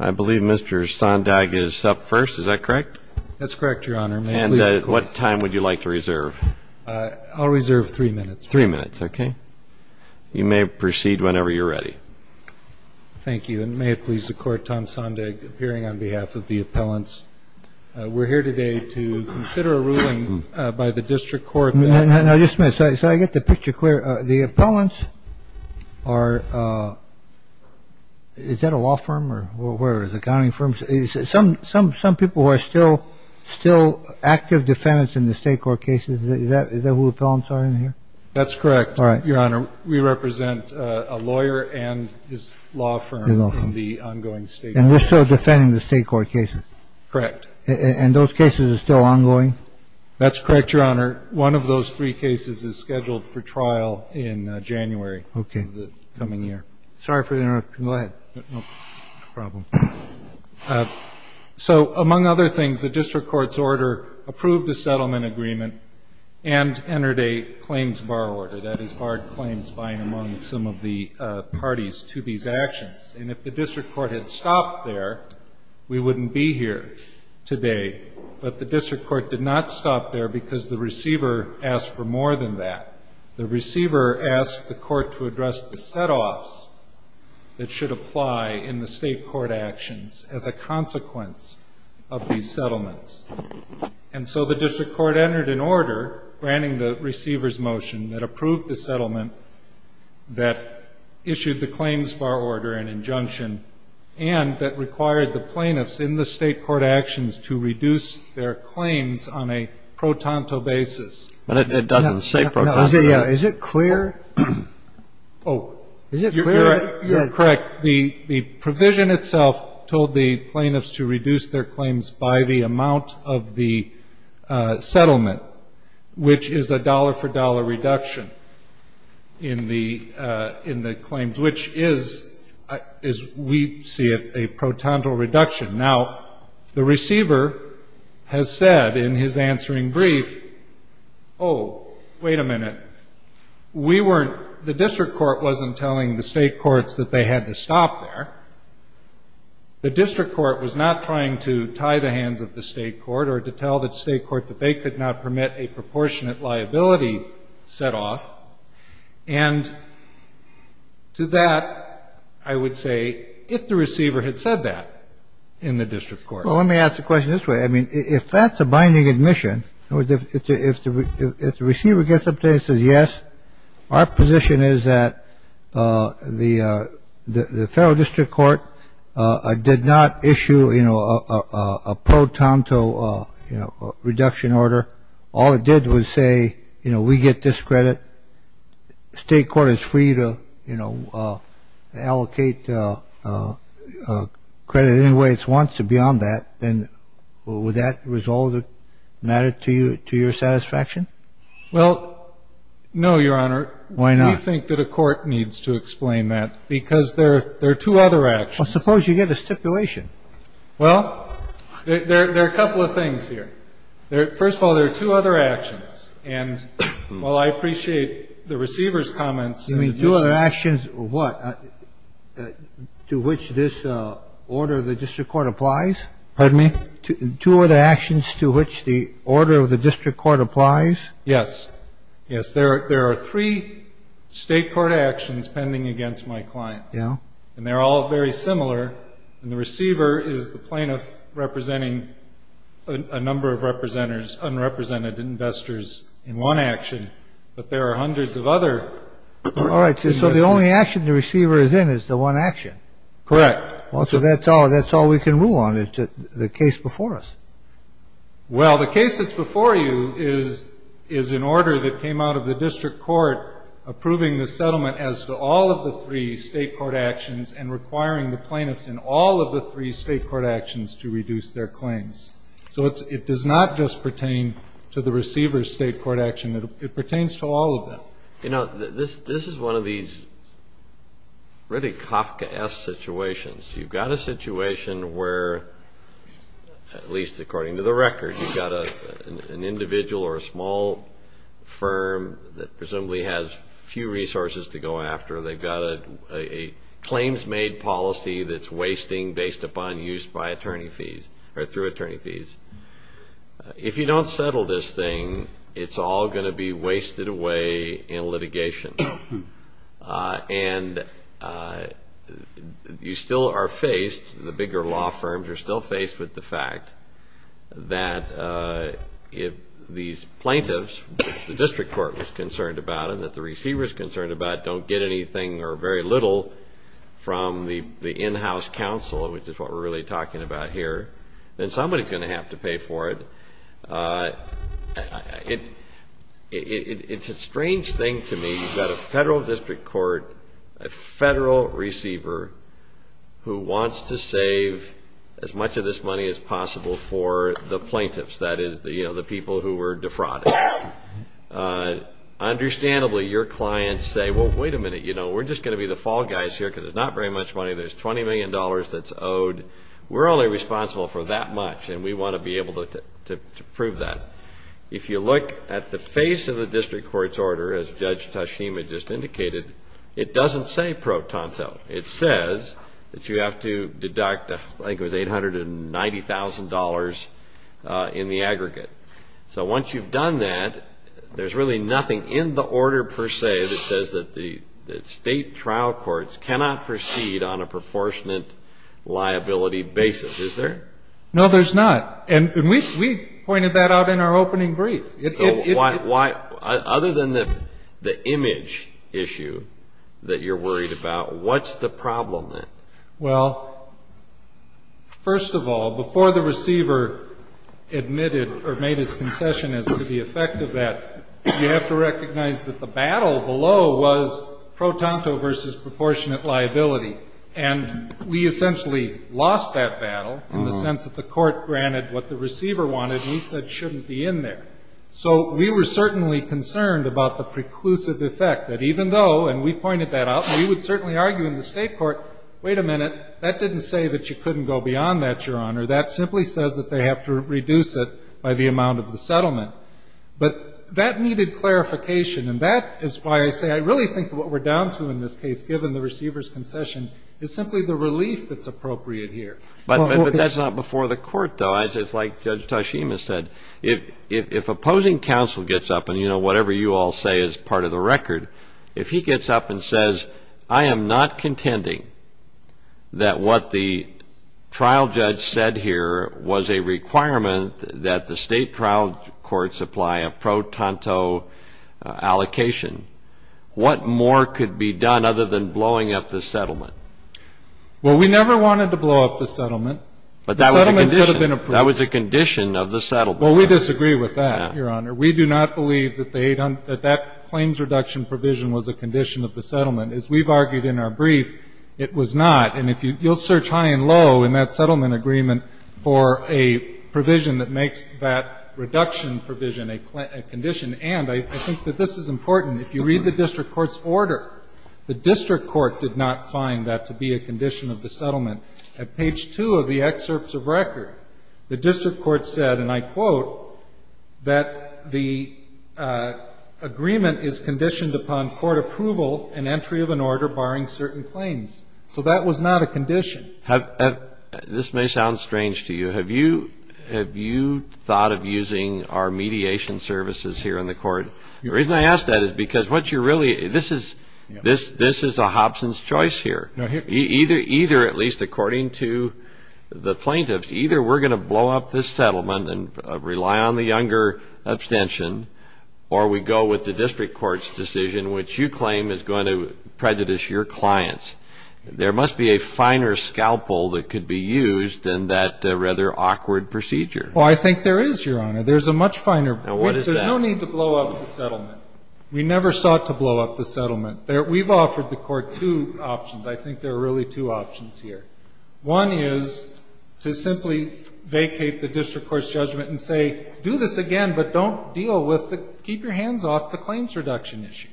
I believe Mr. Sondag is up first, is that correct? That's correct, your honor. And what time would you like to reserve? I'll reserve three minutes. Three minutes, okay. You may proceed whenever you're ready. Thank you, and may it please the court, Tom Sondag appearing on behalf of the appellants. We're here today to consider a ruling by the district court. Now just a minute, so I get the picture clear. The appellants are, is that a law firm or whatever, is it a county firm? Some people are still active defendants in the state court cases. Is that who the appellants are in here? That's correct, your honor. And they're still defending the state court cases? Correct. And those cases are still ongoing? That's correct, your honor. One of those three cases is scheduled for trial in January of the coming year. Okay. Sorry for the interruption. Go ahead. No problem. So among other things, the district court's order approved a settlement agreement and entered a claims bar order. That is barred claims buying among some of the parties to these actions. And if the district court had stopped there, we wouldn't be here today. But the district court did not stop there because the receiver asked for more than that. The receiver asked the court to address the set-offs that should apply in the state court actions as a consequence of these settlements. And so the district court entered an order granting the receiver's motion that approved the settlement that issued the claims bar order and injunction and that required the plaintiffs in the state court actions to reduce their claims on a pro-tanto basis. But it doesn't say pro-tanto. Is it clear? Oh. Is it clear? You're correct. The provision itself told the plaintiffs to reduce their claims by the amount of the settlement, which is a dollar-for-dollar reduction in the claims, which is, as we see it, a pro-tanto reduction. Now, the receiver has said in his answering brief, oh, wait a minute, we weren't the district court wasn't telling the state courts that they had to stop there. The district court was not trying to tie the hands of the state court or to tell the state court that they could not permit a proportionate liability set-off. And to that, I would say, if the receiver had said that in the district court. Well, let me ask the question this way. I mean, if that's a binding admission, if the receiver gets up there and says yes, our position is that the federal district court did not issue a pro-tanto reduction order. All it did was say, you know, we get this credit. The state court is free to, you know, allocate credit any way it wants to beyond that. Then would that resolve the matter to your satisfaction? Well, no, Your Honor. Why not? We think that a court needs to explain that because there are two other actions. Well, suppose you get a stipulation. Well, there are a couple of things here. First of all, there are two other actions. And while I appreciate the receiver's comments. You mean two other actions what? To which this order of the district court applies? Pardon me? Two other actions to which the order of the district court applies? Yes. Yes. There are three state court actions pending against my clients. Yeah. And they're all very similar. And the receiver is the plaintiff representing a number of representatives, unrepresented investors in one action. But there are hundreds of other. All right. So the only action the receiver is in is the one action. Correct. Well, so that's all we can rule on. It's the case before us. Well, the case that's before you is an order that came out of the district court approving the settlement as to all of the three state court actions and requiring the plaintiffs in all of the three state court actions to reduce their claims. So it does not just pertain to the receiver's state court action. It pertains to all of them. You know, this is one of these really Kafkaesque situations. You've got a situation where, at least according to the record, you've got an individual or a small firm that presumably has few resources to go after. They've got a claims-made policy that's wasting based upon use by attorney fees or through attorney fees. If you don't settle this thing, it's all going to be wasted away in litigation. And you still are faced, the bigger law firms are still faced with the fact that if these plaintiffs, which the district court was concerned about and that the receiver is concerned about, don't get anything or very little from the in-house counsel, which is what we're really talking about here, then somebody's going to have to pay for it. It's a strange thing to me that a federal district court, a federal receiver, who wants to save as much of this money as possible for the plaintiffs, that is the people who were defrauded, understandably your clients say, well, wait a minute, you know, we're just going to be the fall guys here because there's not very much money. There's $20 million that's owed. We're only responsible for that much, and we want to be able to prove that. If you look at the face of the district court's order, as Judge Tashima just indicated, it doesn't say pro tonto. It says that you have to deduct I think it was $890,000 in the aggregate. So once you've done that, there's really nothing in the order per se that says that the state trial courts cannot proceed on a proportionate liability basis, is there? No, there's not. And we pointed that out in our opening brief. So other than the image issue that you're worried about, what's the problem then? Well, first of all, before the receiver admitted or made his concession as to the effect of that, you have to recognize that the battle below was pro tonto versus proportionate liability. And we essentially lost that battle in the sense that the court granted what the receiver wanted and he said shouldn't be in there. So we were certainly concerned about the preclusive effect, that even though, and we pointed that out, we would certainly argue in the state court, wait a minute, that didn't say that you couldn't go beyond that, Your Honor. That simply says that they have to reduce it by the amount of the settlement. But that needed clarification, and that is why I say I really think what we're down to in this case, given the receiver's concession, is simply the relief that's appropriate here. But that's not before the court, though. It's like Judge Toshima said. If opposing counsel gets up and, you know, whatever you all say is part of the record, if he gets up and says I am not contending that what the trial judge said here was a requirement that the state trial courts apply a pro tonto allocation, what more could be done other than blowing up the settlement? Well, we never wanted to blow up the settlement. But that was a condition. The settlement could have been approved. That was a condition of the settlement. Well, we disagree with that, Your Honor. We do not believe that that claims reduction provision was a condition of the settlement. As we've argued in our brief, it was not. And if you'll search high and low in that settlement agreement for a provision that makes that reduction provision a condition. And I think that this is important. If you read the district court's order, the district court did not find that to be a condition of the settlement. At page 2 of the excerpts of record, the district court said, and I quote, that the agreement is conditioned upon court approval and entry of an order barring certain claims. So that was not a condition. This may sound strange to you. Have you thought of using our mediation services here in the court? The reason I ask that is because this is a Hobson's choice here. Either, at least according to the plaintiffs, either we're going to blow up this settlement and rely on the Younger abstention or we go with the district court's decision, which you claim is going to prejudice your clients. There must be a finer scalpel that could be used in that rather awkward procedure. Well, I think there is, Your Honor. There's a much finer. Now, what is that? There's no need to blow up the settlement. We never sought to blow up the settlement. We've offered the court two options. I think there are really two options here. One is to simply vacate the district court's judgment and say, do this again, but keep your hands off the claims reduction issue.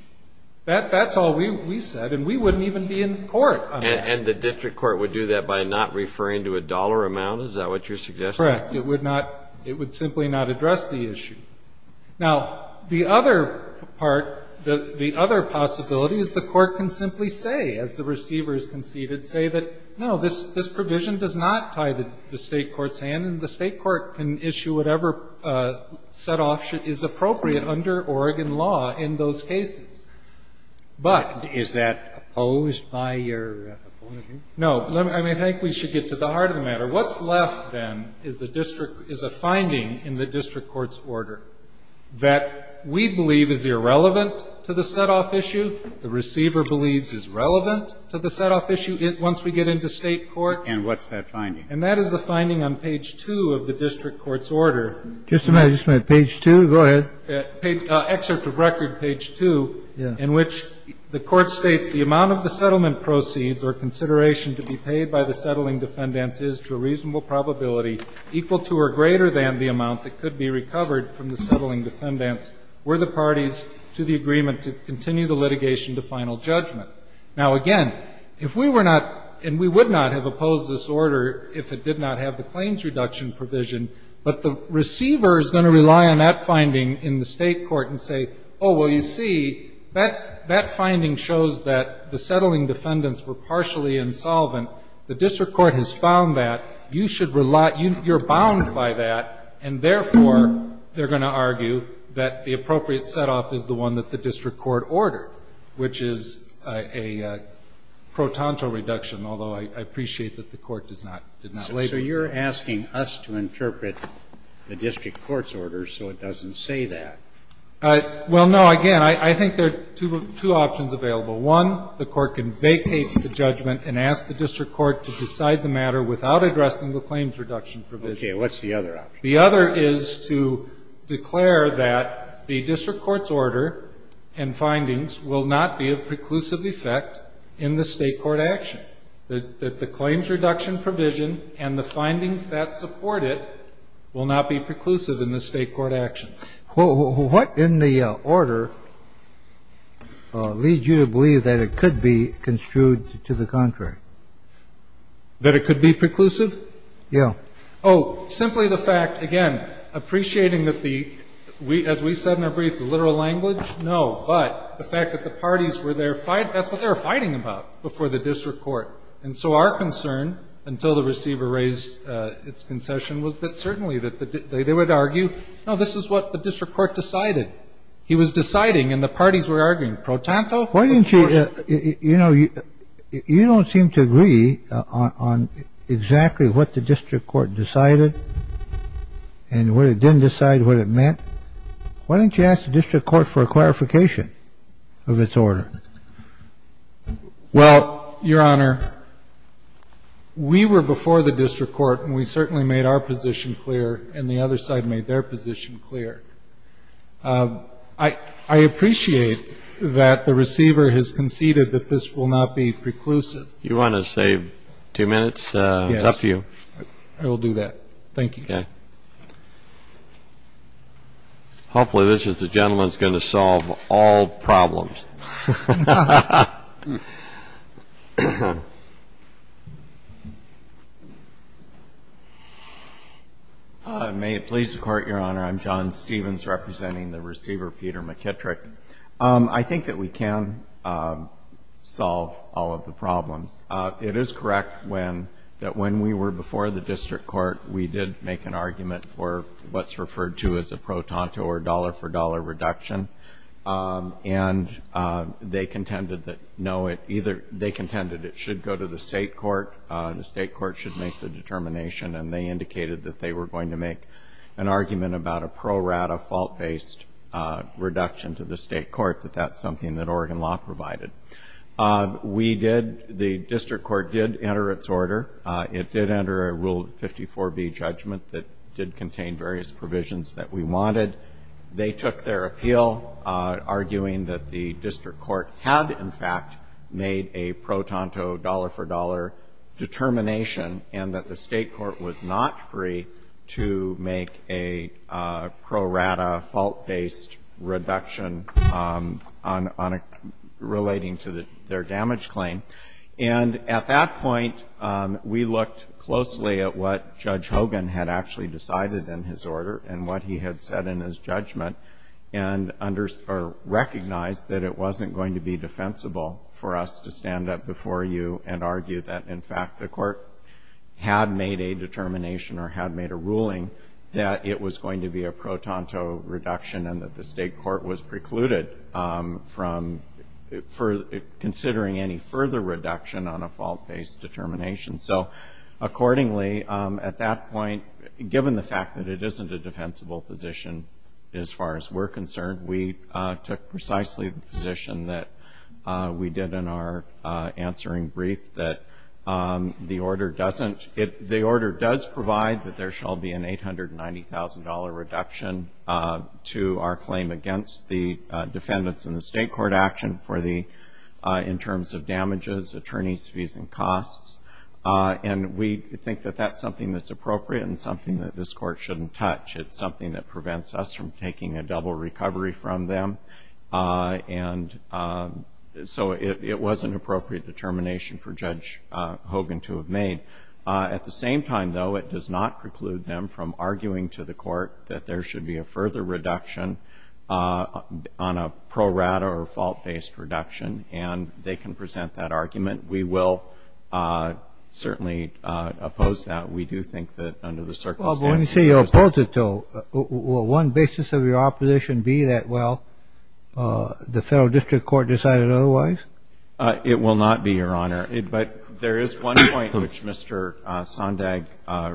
That's all we said, and we wouldn't even be in court on that. And the district court would do that by not referring to a dollar amount? Is that what you're suggesting? Correct. It would simply not address the issue. Now, the other possibility is the court can simply say, as the receivers conceded, say that, no, this provision does not tie the state court's hand, then the state court can issue whatever set-off is appropriate under Oregon law in those cases. But is that opposed by your opposing? No. I think we should get to the heart of the matter. What's left, then, is a finding in the district court's order that we believe is irrelevant to the set-off issue, the receiver believes is relevant to the set-off issue once we get into state court. And what's that finding? And that is the finding on page 2 of the district court's order. Just a minute. Just a minute. Page 2? Go ahead. Excerpt of record, page 2, in which the court states, the amount of the settlement proceeds or consideration to be paid by the settling defendants is to a reasonable probability equal to or greater than the amount that could be recovered from the settling defendants were the parties to the agreement to continue the litigation to final judgment. Now, again, if we were not, and we would not have opposed this order if it did not have the claims reduction provision, but the receiver is going to rely on that finding in the state court and say, oh, well, you see, that finding shows that the settling defendants were partially insolvent. The district court has found that. You should rely, you're bound by that. And, therefore, they're going to argue that the appropriate set-off is the one that the district court ordered, which is a pro tonto reduction, although I appreciate that the court did not label it. So you're asking us to interpret the district court's order so it doesn't say that. Well, no. Again, I think there are two options available. One, the court can vacate the judgment and ask the district court to decide the matter without addressing the claims reduction provision. What's the other option? The other is to declare that the district court's order and findings will not be of preclusive effect in the state court action, that the claims reduction provision and the findings that support it will not be preclusive in the state court actions. Well, what in the order leads you to believe that it could be construed to the contrary? That it could be preclusive? Yeah. Oh, simply the fact, again, appreciating that the — as we said in our brief, the literal language? No. But the fact that the parties were there — that's what they were fighting about before the district court. And so our concern, until the receiver raised its concession, was that certainly that they would argue, no, this is what the district court decided. He was deciding, and the parties were arguing. Pro tanto? Why didn't you — you know, you don't seem to agree on exactly what the district court decided and what it didn't decide, what it meant. Why didn't you ask the district court for a clarification of its order? Well, Your Honor, we were before the district court, and we certainly made our position clear, and the other side made their position clear. I appreciate that the receiver has conceded that this will not be preclusive. Do you want to save two minutes? Yes. It's up to you. I will do that. Thank you. Okay. Hopefully this gentleman is going to solve all problems. May it please the Court, Your Honor. I'm John Stevens, representing the receiver, Peter McKittrick. I think that we can solve all of the problems. It is correct that when we were before the district court, we did make an argument for what's referred to as a pro tanto or dollar-for-dollar reduction. And they contended it should go to the state court. The state court should make the determination, and they indicated that they were going to make an argument about a pro rata, fault-based reduction to the state court, that that's something that Oregon law provided. The district court did enter its order. It did enter a Rule 54B judgment that did contain various provisions that we wanted. They took their appeal, arguing that the district court had, in fact, made a pro tanto, dollar-for-dollar determination and that the state court was not free to make a pro rata, fault-based reduction relating to their damage claim. And at that point, we looked closely at what Judge Hogan had actually decided in his order and what he had said in his judgment and recognized that it wasn't going to be defensible for us to stand up before you and argue that, in fact, the court had made a determination or had made a ruling that it was going to be a pro tanto reduction and that the state court was precluded from considering any further reduction on a fault-based determination. So, accordingly, at that point, given the fact that it isn't a defensible position, as far as we're concerned, we took precisely the position that we did in our answering brief, that the order doesn't, the order does provide that there shall be an $890,000 reduction to our claim against the defendants in the state court action for the, in terms of damages, attorneys' fees and costs, and we think that that's something that's appropriate and something that this court shouldn't touch. It's something that prevents us from taking a double recovery from them, and so it was an appropriate determination for Judge Hogan to have made. At the same time, though, it does not preclude them from arguing to the court that there should be a further reduction on a pro rata or fault-based reduction, and they can present that argument. We will certainly oppose that. We do think that under the circumstances... Well, but when you say you'll oppose it, though, will one basis of your opposition be that, well, the Federal District Court decided otherwise? It will not be, Your Honor. But there is one point which Mr. Sondag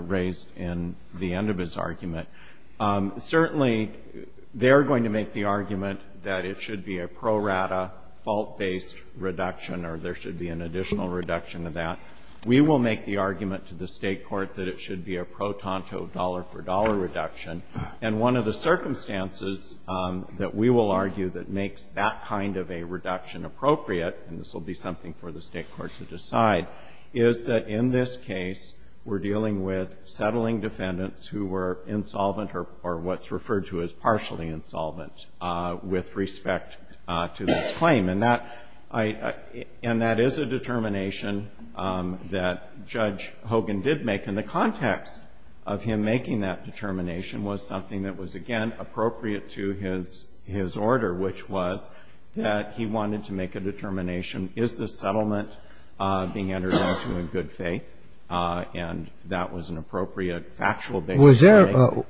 raised in the end of his argument. Certainly, they are going to make the argument that it should be a pro rata, fault-based reduction or there should be an additional reduction of that. We will make the argument to the state court that it should be a pro tanto, dollar reduction, and one of the circumstances that we will argue that makes that kind of a reduction appropriate, and this will be something for the state court to decide, is that in this case, we're dealing with settling defendants who were insolvent or what's referred to as partially insolvent with respect to this claim. And that is a determination that Judge Hogan did make in the context of him making that determination was something that was, again, appropriate to his order, which was that he wanted to make a determination, is this settlement being entered into in good faith, and that was an appropriate factual basis.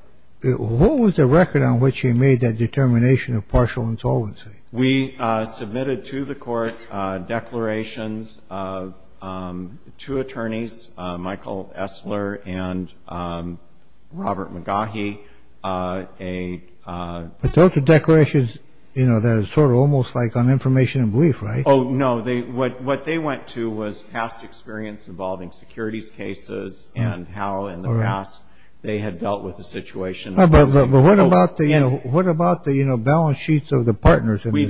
What was the record on which he made that determination of partial insolvency? We submitted to the court declarations of two attorneys, Michael Essler and Robert McGaughy. But those are declarations that are sort of almost like on information and belief, right? Oh, no. What they went to was past experience involving securities cases and how in the past they had dealt with the situation. But what about the balance sheets of the partners? We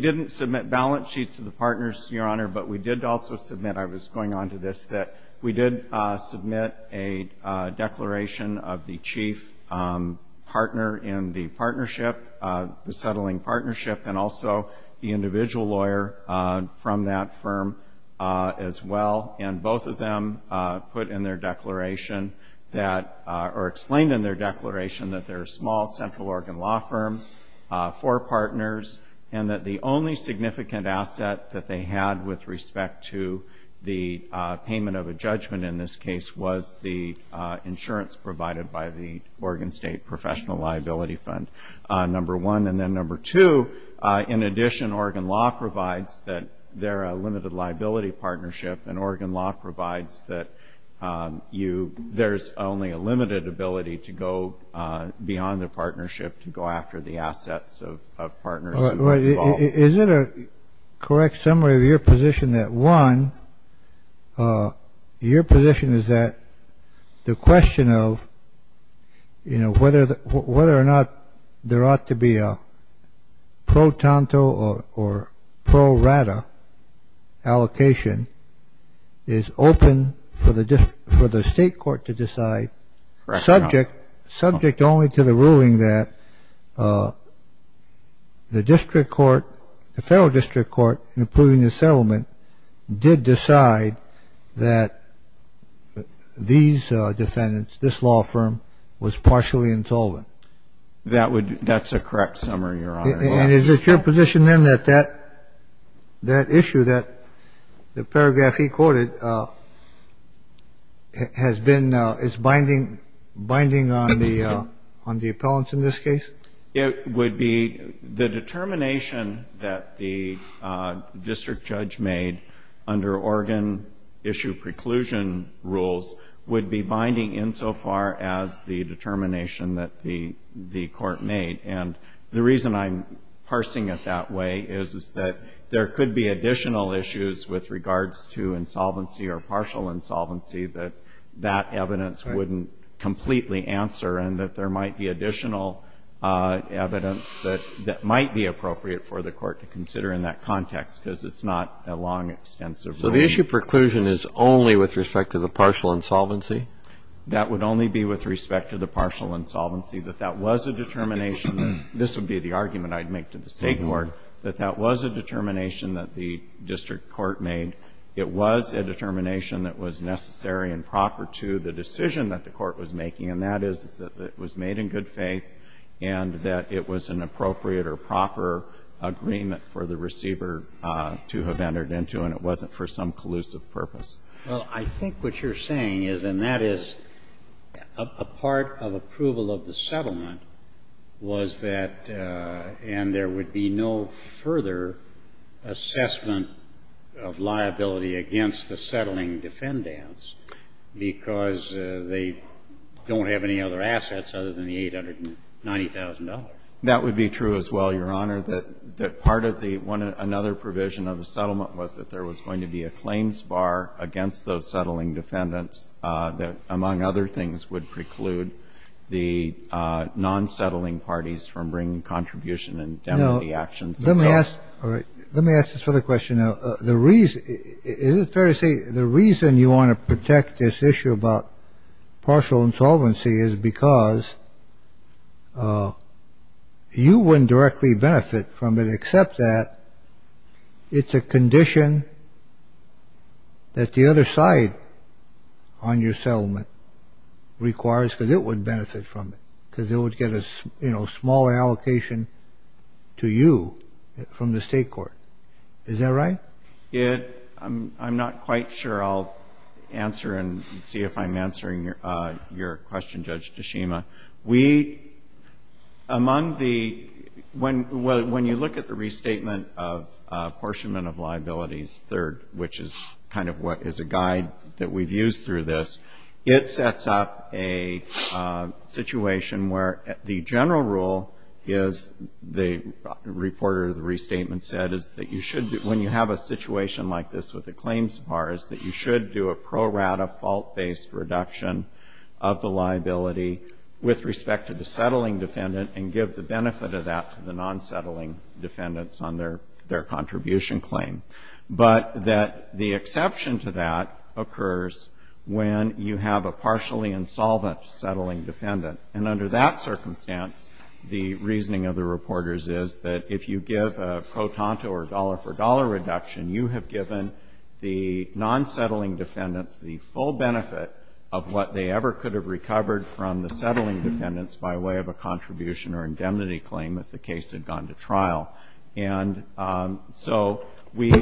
didn't submit balance sheets of the partners, Your Honor, but we did also submit, I was going on to say this, that we did submit a declaration of the chief partner in the partnership, the settling partnership, and also the individual lawyer from that firm as well. And both of them put in their declaration that, or explained in their declaration that they're small central organ law firms, four partners, and that the only significant asset that they had with respect to the payment of a judgment in this case was the insurance provided by the Oregon State Professional Liability Fund, number one. And then number two, in addition, Oregon Law provides that they're a limited liability partnership, and Oregon Law provides that there's only a limited ability to go beyond the partnership to go after the assets of partners involved. Is it a correct summary of your position that, one, your position is that the question of, you know, whether or not there ought to be a pro tanto or pro rata allocation is open for the state court to decide, subject only to the ruling that the district court, the federal district court, in approving the settlement, did decide that these defendants, this law firm, was partially insolvent? That's a correct summary, Your Honor. And is it your position, then, that that issue, that the paragraph he quoted, has been, is binding on the appellants in this case? It would be the determination that the district judge made under Oregon issue preclusion rules would be binding insofar as the determination that the court made. And the reason I'm parsing it that way is that there could be additional issues with regards to insolvency or partial insolvency that that evidence wouldn't completely answer, and that there might be additional evidence that might be appropriate for the court to consider in that context, because it's not a long, extensive ruling. So the issue of preclusion is only with respect to the partial insolvency? That would only be with respect to the partial insolvency, that that was a determination. This would be the argument I'd make to the state court, that that was a determination that the district court made. It was a determination that was necessary and proper to the decision that the court was making, and that is, that it was made in good faith, and that it was an appropriate or proper agreement for the receiver to have entered into, and it wasn't for some collusive purpose. Well, I think what you're saying is, and that is, a part of approval of the settlement was that, and there would be no further assessment of liability in the settlement, of liability against the settling defendants, because they don't have any other assets other than the $890,000. That would be true as well, Your Honor, that part of the one another provision of the settlement was that there was going to be a claims bar against those settling defendants that, among other things, would preclude the non-settling parties from bringing contribution and indemnity actions. Let me ask this other question now. Is it fair to say the reason you want to protect this issue about partial insolvency is because you wouldn't directly benefit from it, except that it's a condition that the other side on your settlement requires, because it would benefit from it, because it would get a small allocation to you from the state court. Is that right? I'm not quite sure I'll answer and see if I'm answering your question, Judge Tashima. When you look at the restatement of apportionment of liabilities, third, which is kind of what is a guide that we've used through this, it sets up a situation where the general rule is, the reporter of the restatement said, is that you should, when you have a situation like this with a claims bar, is that you should do a pro rata fault-based reduction of the liability with respect to the settling defendant and give the benefit of that to the non-settling defendants on their contribution claim, but that the exception to that occurs when you have a partially insolvent settling defendant. And under that circumstance, the reasoning of the reporters is that if you give a pro tanto or dollar-for-dollar reduction, you have given the non-settling defendants the full benefit of what they ever could have recovered from the settling defendants by way of a contribution or indemnity claim if the case had gone to trial. And so we,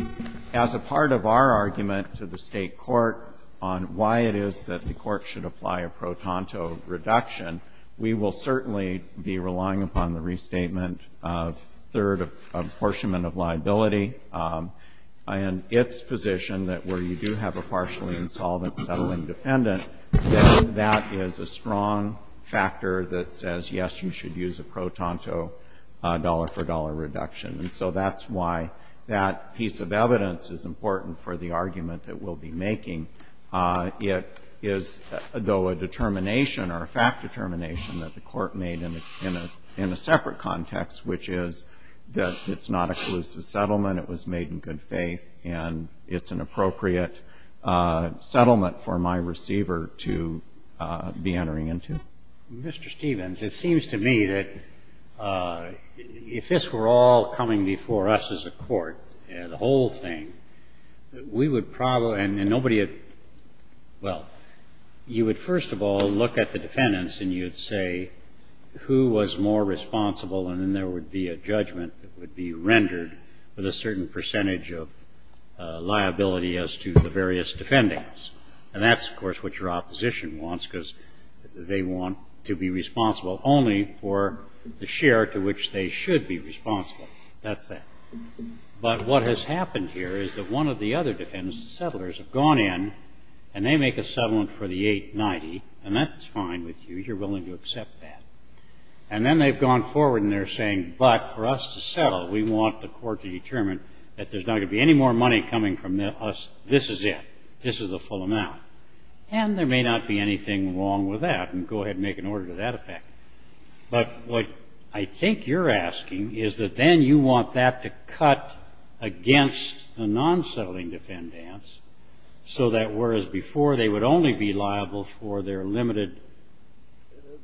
as a part of our argument to the State court on why it is that the court should apply a pro tanto reduction, we will certainly be relying upon the restatement of third apportionment of liability and its position that where you do have a partially insolvent settling defendant, that that is a strong factor that says, yes, you should use a pro tanto dollar-for-dollar reduction. And so that's why that piece of evidence is important for the argument that we'll be making. It is, though, a determination or a fact determination that the Court made in a separate context, which is that it's not a collusive settlement, it was made in good faith, and it's an appropriate settlement for my receiver to be entering into. Mr. Stevens, it seems to me that if this were all coming before us as a court, the whole thing, we would probably – and nobody would – well, you would first of all look at the defendants and you would say who was more responsible, and then there would be a judgment that would be rendered with a certain percentage of liability as to the various defendants. And that's, of course, what your opposition wants, because they want to be responsible only for the share to which they should be responsible. That's that. But what has happened here is that one of the other defendants, the settlers, have gone in and they make a settlement for the 890, and that's fine with you, you're willing to accept that. And then they've gone forward and they're saying, but for us to settle, we want the Court to determine that there's not going to be any more money coming from us, this is it, this is the full amount. And there may not be anything wrong with that, and go ahead and make an order to that effect. But what I think you're asking is that then you want that to cut against the non-settling defendants so that whereas before they would only be liable for their limited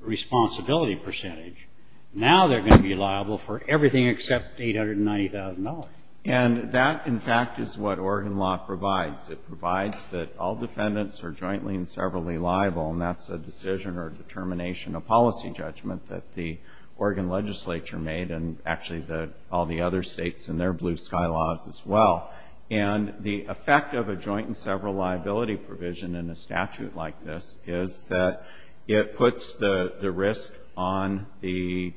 responsibility percentage, now they're going to be liable for everything except $890,000. And that, in fact, is what Oregon law provides. It provides that all defendants are jointly and severally liable, and that's a decision or determination, a policy judgment, that the Oregon legislature made, and actually all the other states in their blue sky laws as well. And the effect of a joint and several liability provision in a statute like this is that it puts the risk on the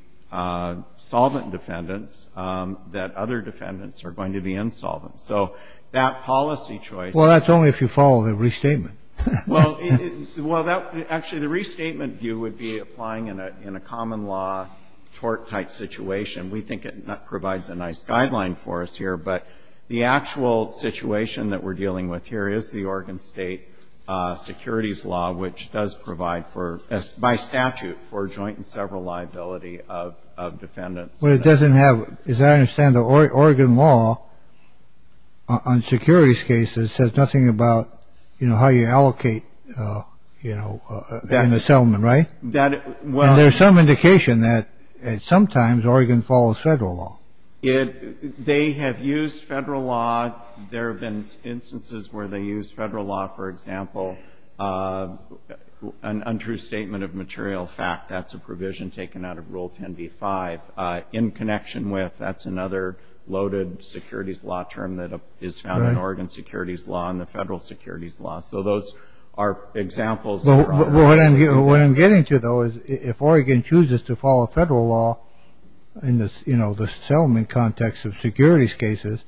solvent defendants that other defendants are going to be insolvent. So that policy choice ‑‑ Well, that's only if you follow the restatement. Well, that ‑‑ actually, the restatement view would be applying in a common law tort-type situation. We think it provides a nice guideline for us here, but the actual situation that we're dealing with here is the Oregon state securities law, which does provide for, by statute, for joint and several liability of defendants. But it doesn't have, as I understand it, the Oregon law on securities cases says nothing about, you know, how you allocate, you know, in a settlement, right? There's some indication that sometimes Oregon follows federal law. They have used federal law. There have been instances where they used federal law, for example, an untrue statement of material fact. That's a provision taken out of Rule 10b-5. In connection with, that's another loaded securities law term that is found in Oregon securities law and the federal securities law. So those are examples. Well, what I'm getting to, though, is if Oregon chooses to follow federal law in the, you know, the settlement context of securities cases,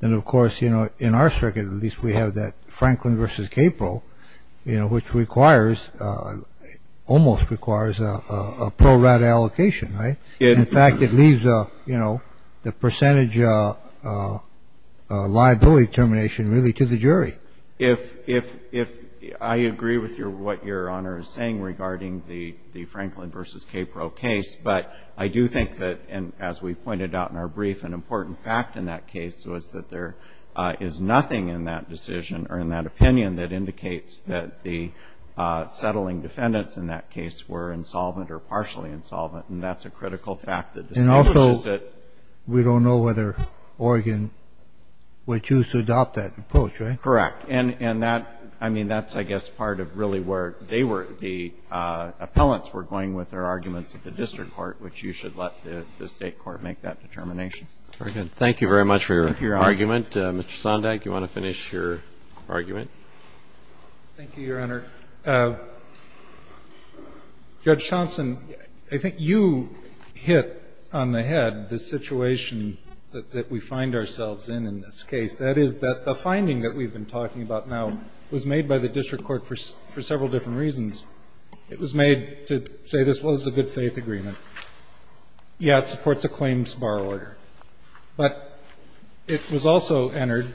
then, of course, you know, in our circuit, at least we have that Franklin versus Capo, you know, which requires, almost requires a pro rata allocation, right? In fact, it leaves, you know, the percentage liability termination really to the jury. If I agree with what Your Honor is saying regarding the Franklin versus Capo case, but I do think that, as we pointed out in our brief, an important fact in that case was that there is nothing in that decision or in that opinion that indicates that the settling defendants in that case were insolvent or partially insolvent. And that's a critical fact that distinguishes it. And also we don't know whether Oregon would choose to adopt that approach, right? Correct. And that, I mean, that's, I guess, part of really where they were, the appellants were going with their arguments at the district court, which you should let the State court make that determination. Very good. Thank you very much for your argument. Thank you, Your Honor. Mr. Sondag, do you want to finish your argument? Thank you, Your Honor. Judge Thompson, I think you hit on the head the situation that we find ourselves in in this case. That is that the finding that we've been talking about now was made by the district court for several different reasons. It was made to say this was a good-faith agreement. Yeah, it supports a claims bar order. But it was also entered,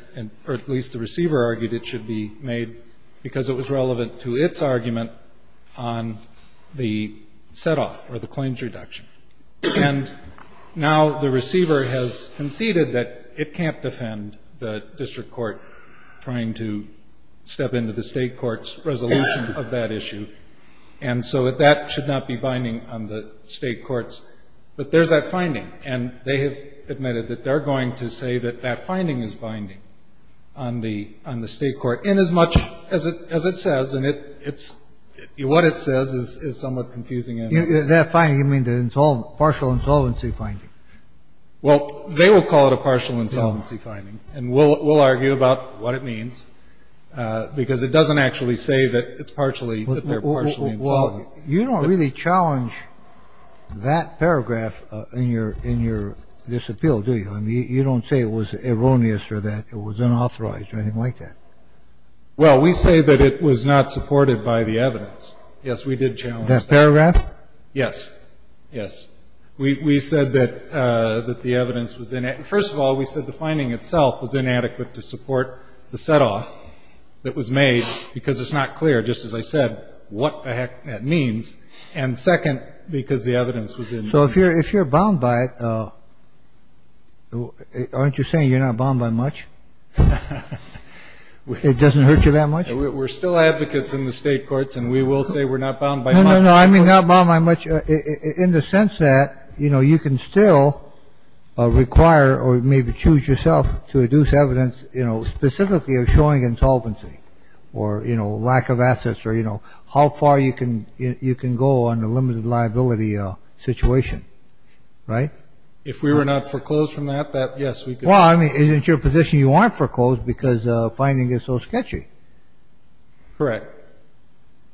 or at least the receiver argued it should be made because it was relevant to its argument on the set-off or the claims reduction. And now the receiver has conceded that it can't defend the district court trying to step into the State court's resolution of that issue. And so that that should not be binding on the State courts. But there's that finding. And they have admitted that they're going to say that that finding is binding on the State court, inasmuch as it says, and what it says is somewhat confusing. That finding, you mean the partial insolvency finding? Well, they will call it a partial insolvency finding. And we'll argue about what it means because it doesn't actually say that it's partially that they're partially insolvent. You don't really challenge that paragraph in your disappeal, do you? I mean, you don't say it was erroneous or that it was unauthorized or anything like that. Well, we say that it was not supported by the evidence. Yes, we did challenge that. Paragraph? Yes. Yes. We said that the evidence was inadequate. First of all, we said the finding itself was inadequate to support the set-off that was made because it's not clear, just as I said, what the heck that means. And second, because the evidence was inadequate. So if you're bound by it, aren't you saying you're not bound by much? It doesn't hurt you that much? No, no, no, I'm not bound by much in the sense that, you know, you can still require or maybe choose yourself to reduce evidence, you know, specifically of showing insolvency or, you know, lack of assets or, you know, how far you can go on a limited liability situation. Right? If we were not foreclosed from that, yes, we could. Well, I mean, in your position, you aren't foreclosed because the finding is so sketchy. Correct.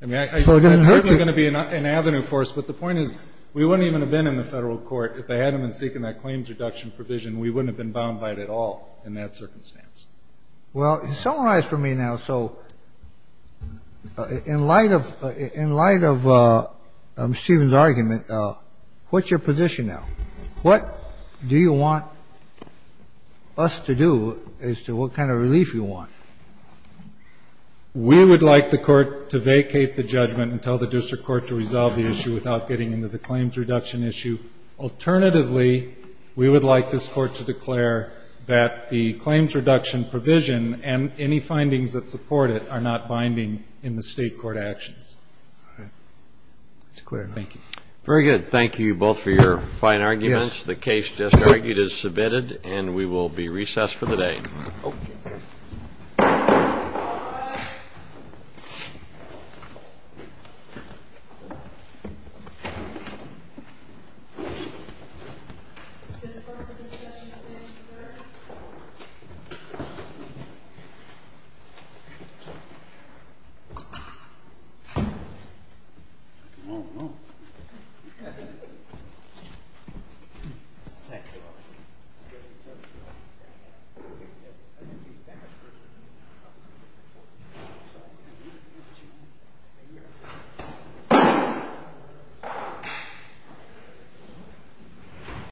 I mean, it's certainly going to be an avenue for us, but the point is we wouldn't even have been in the federal court if they hadn't been seeking that claims reduction provision. We wouldn't have been bound by it at all in that circumstance. Well, summarize for me now. So in light of Stephen's argument, what's your position now? What do you want us to do as to what kind of relief you want? We would like the Court to vacate the judgment and tell the district court to resolve the issue without getting into the claims reduction issue. Alternatively, we would like this Court to declare that the claims reduction provision and any findings that support it are not binding in the State court actions. All right. It's clear. Thank you. Very good. Thank you both for your fine arguments. Yes. The case just argued is submitted, and we will be recessed for the day. Okay. All rise. Thank you.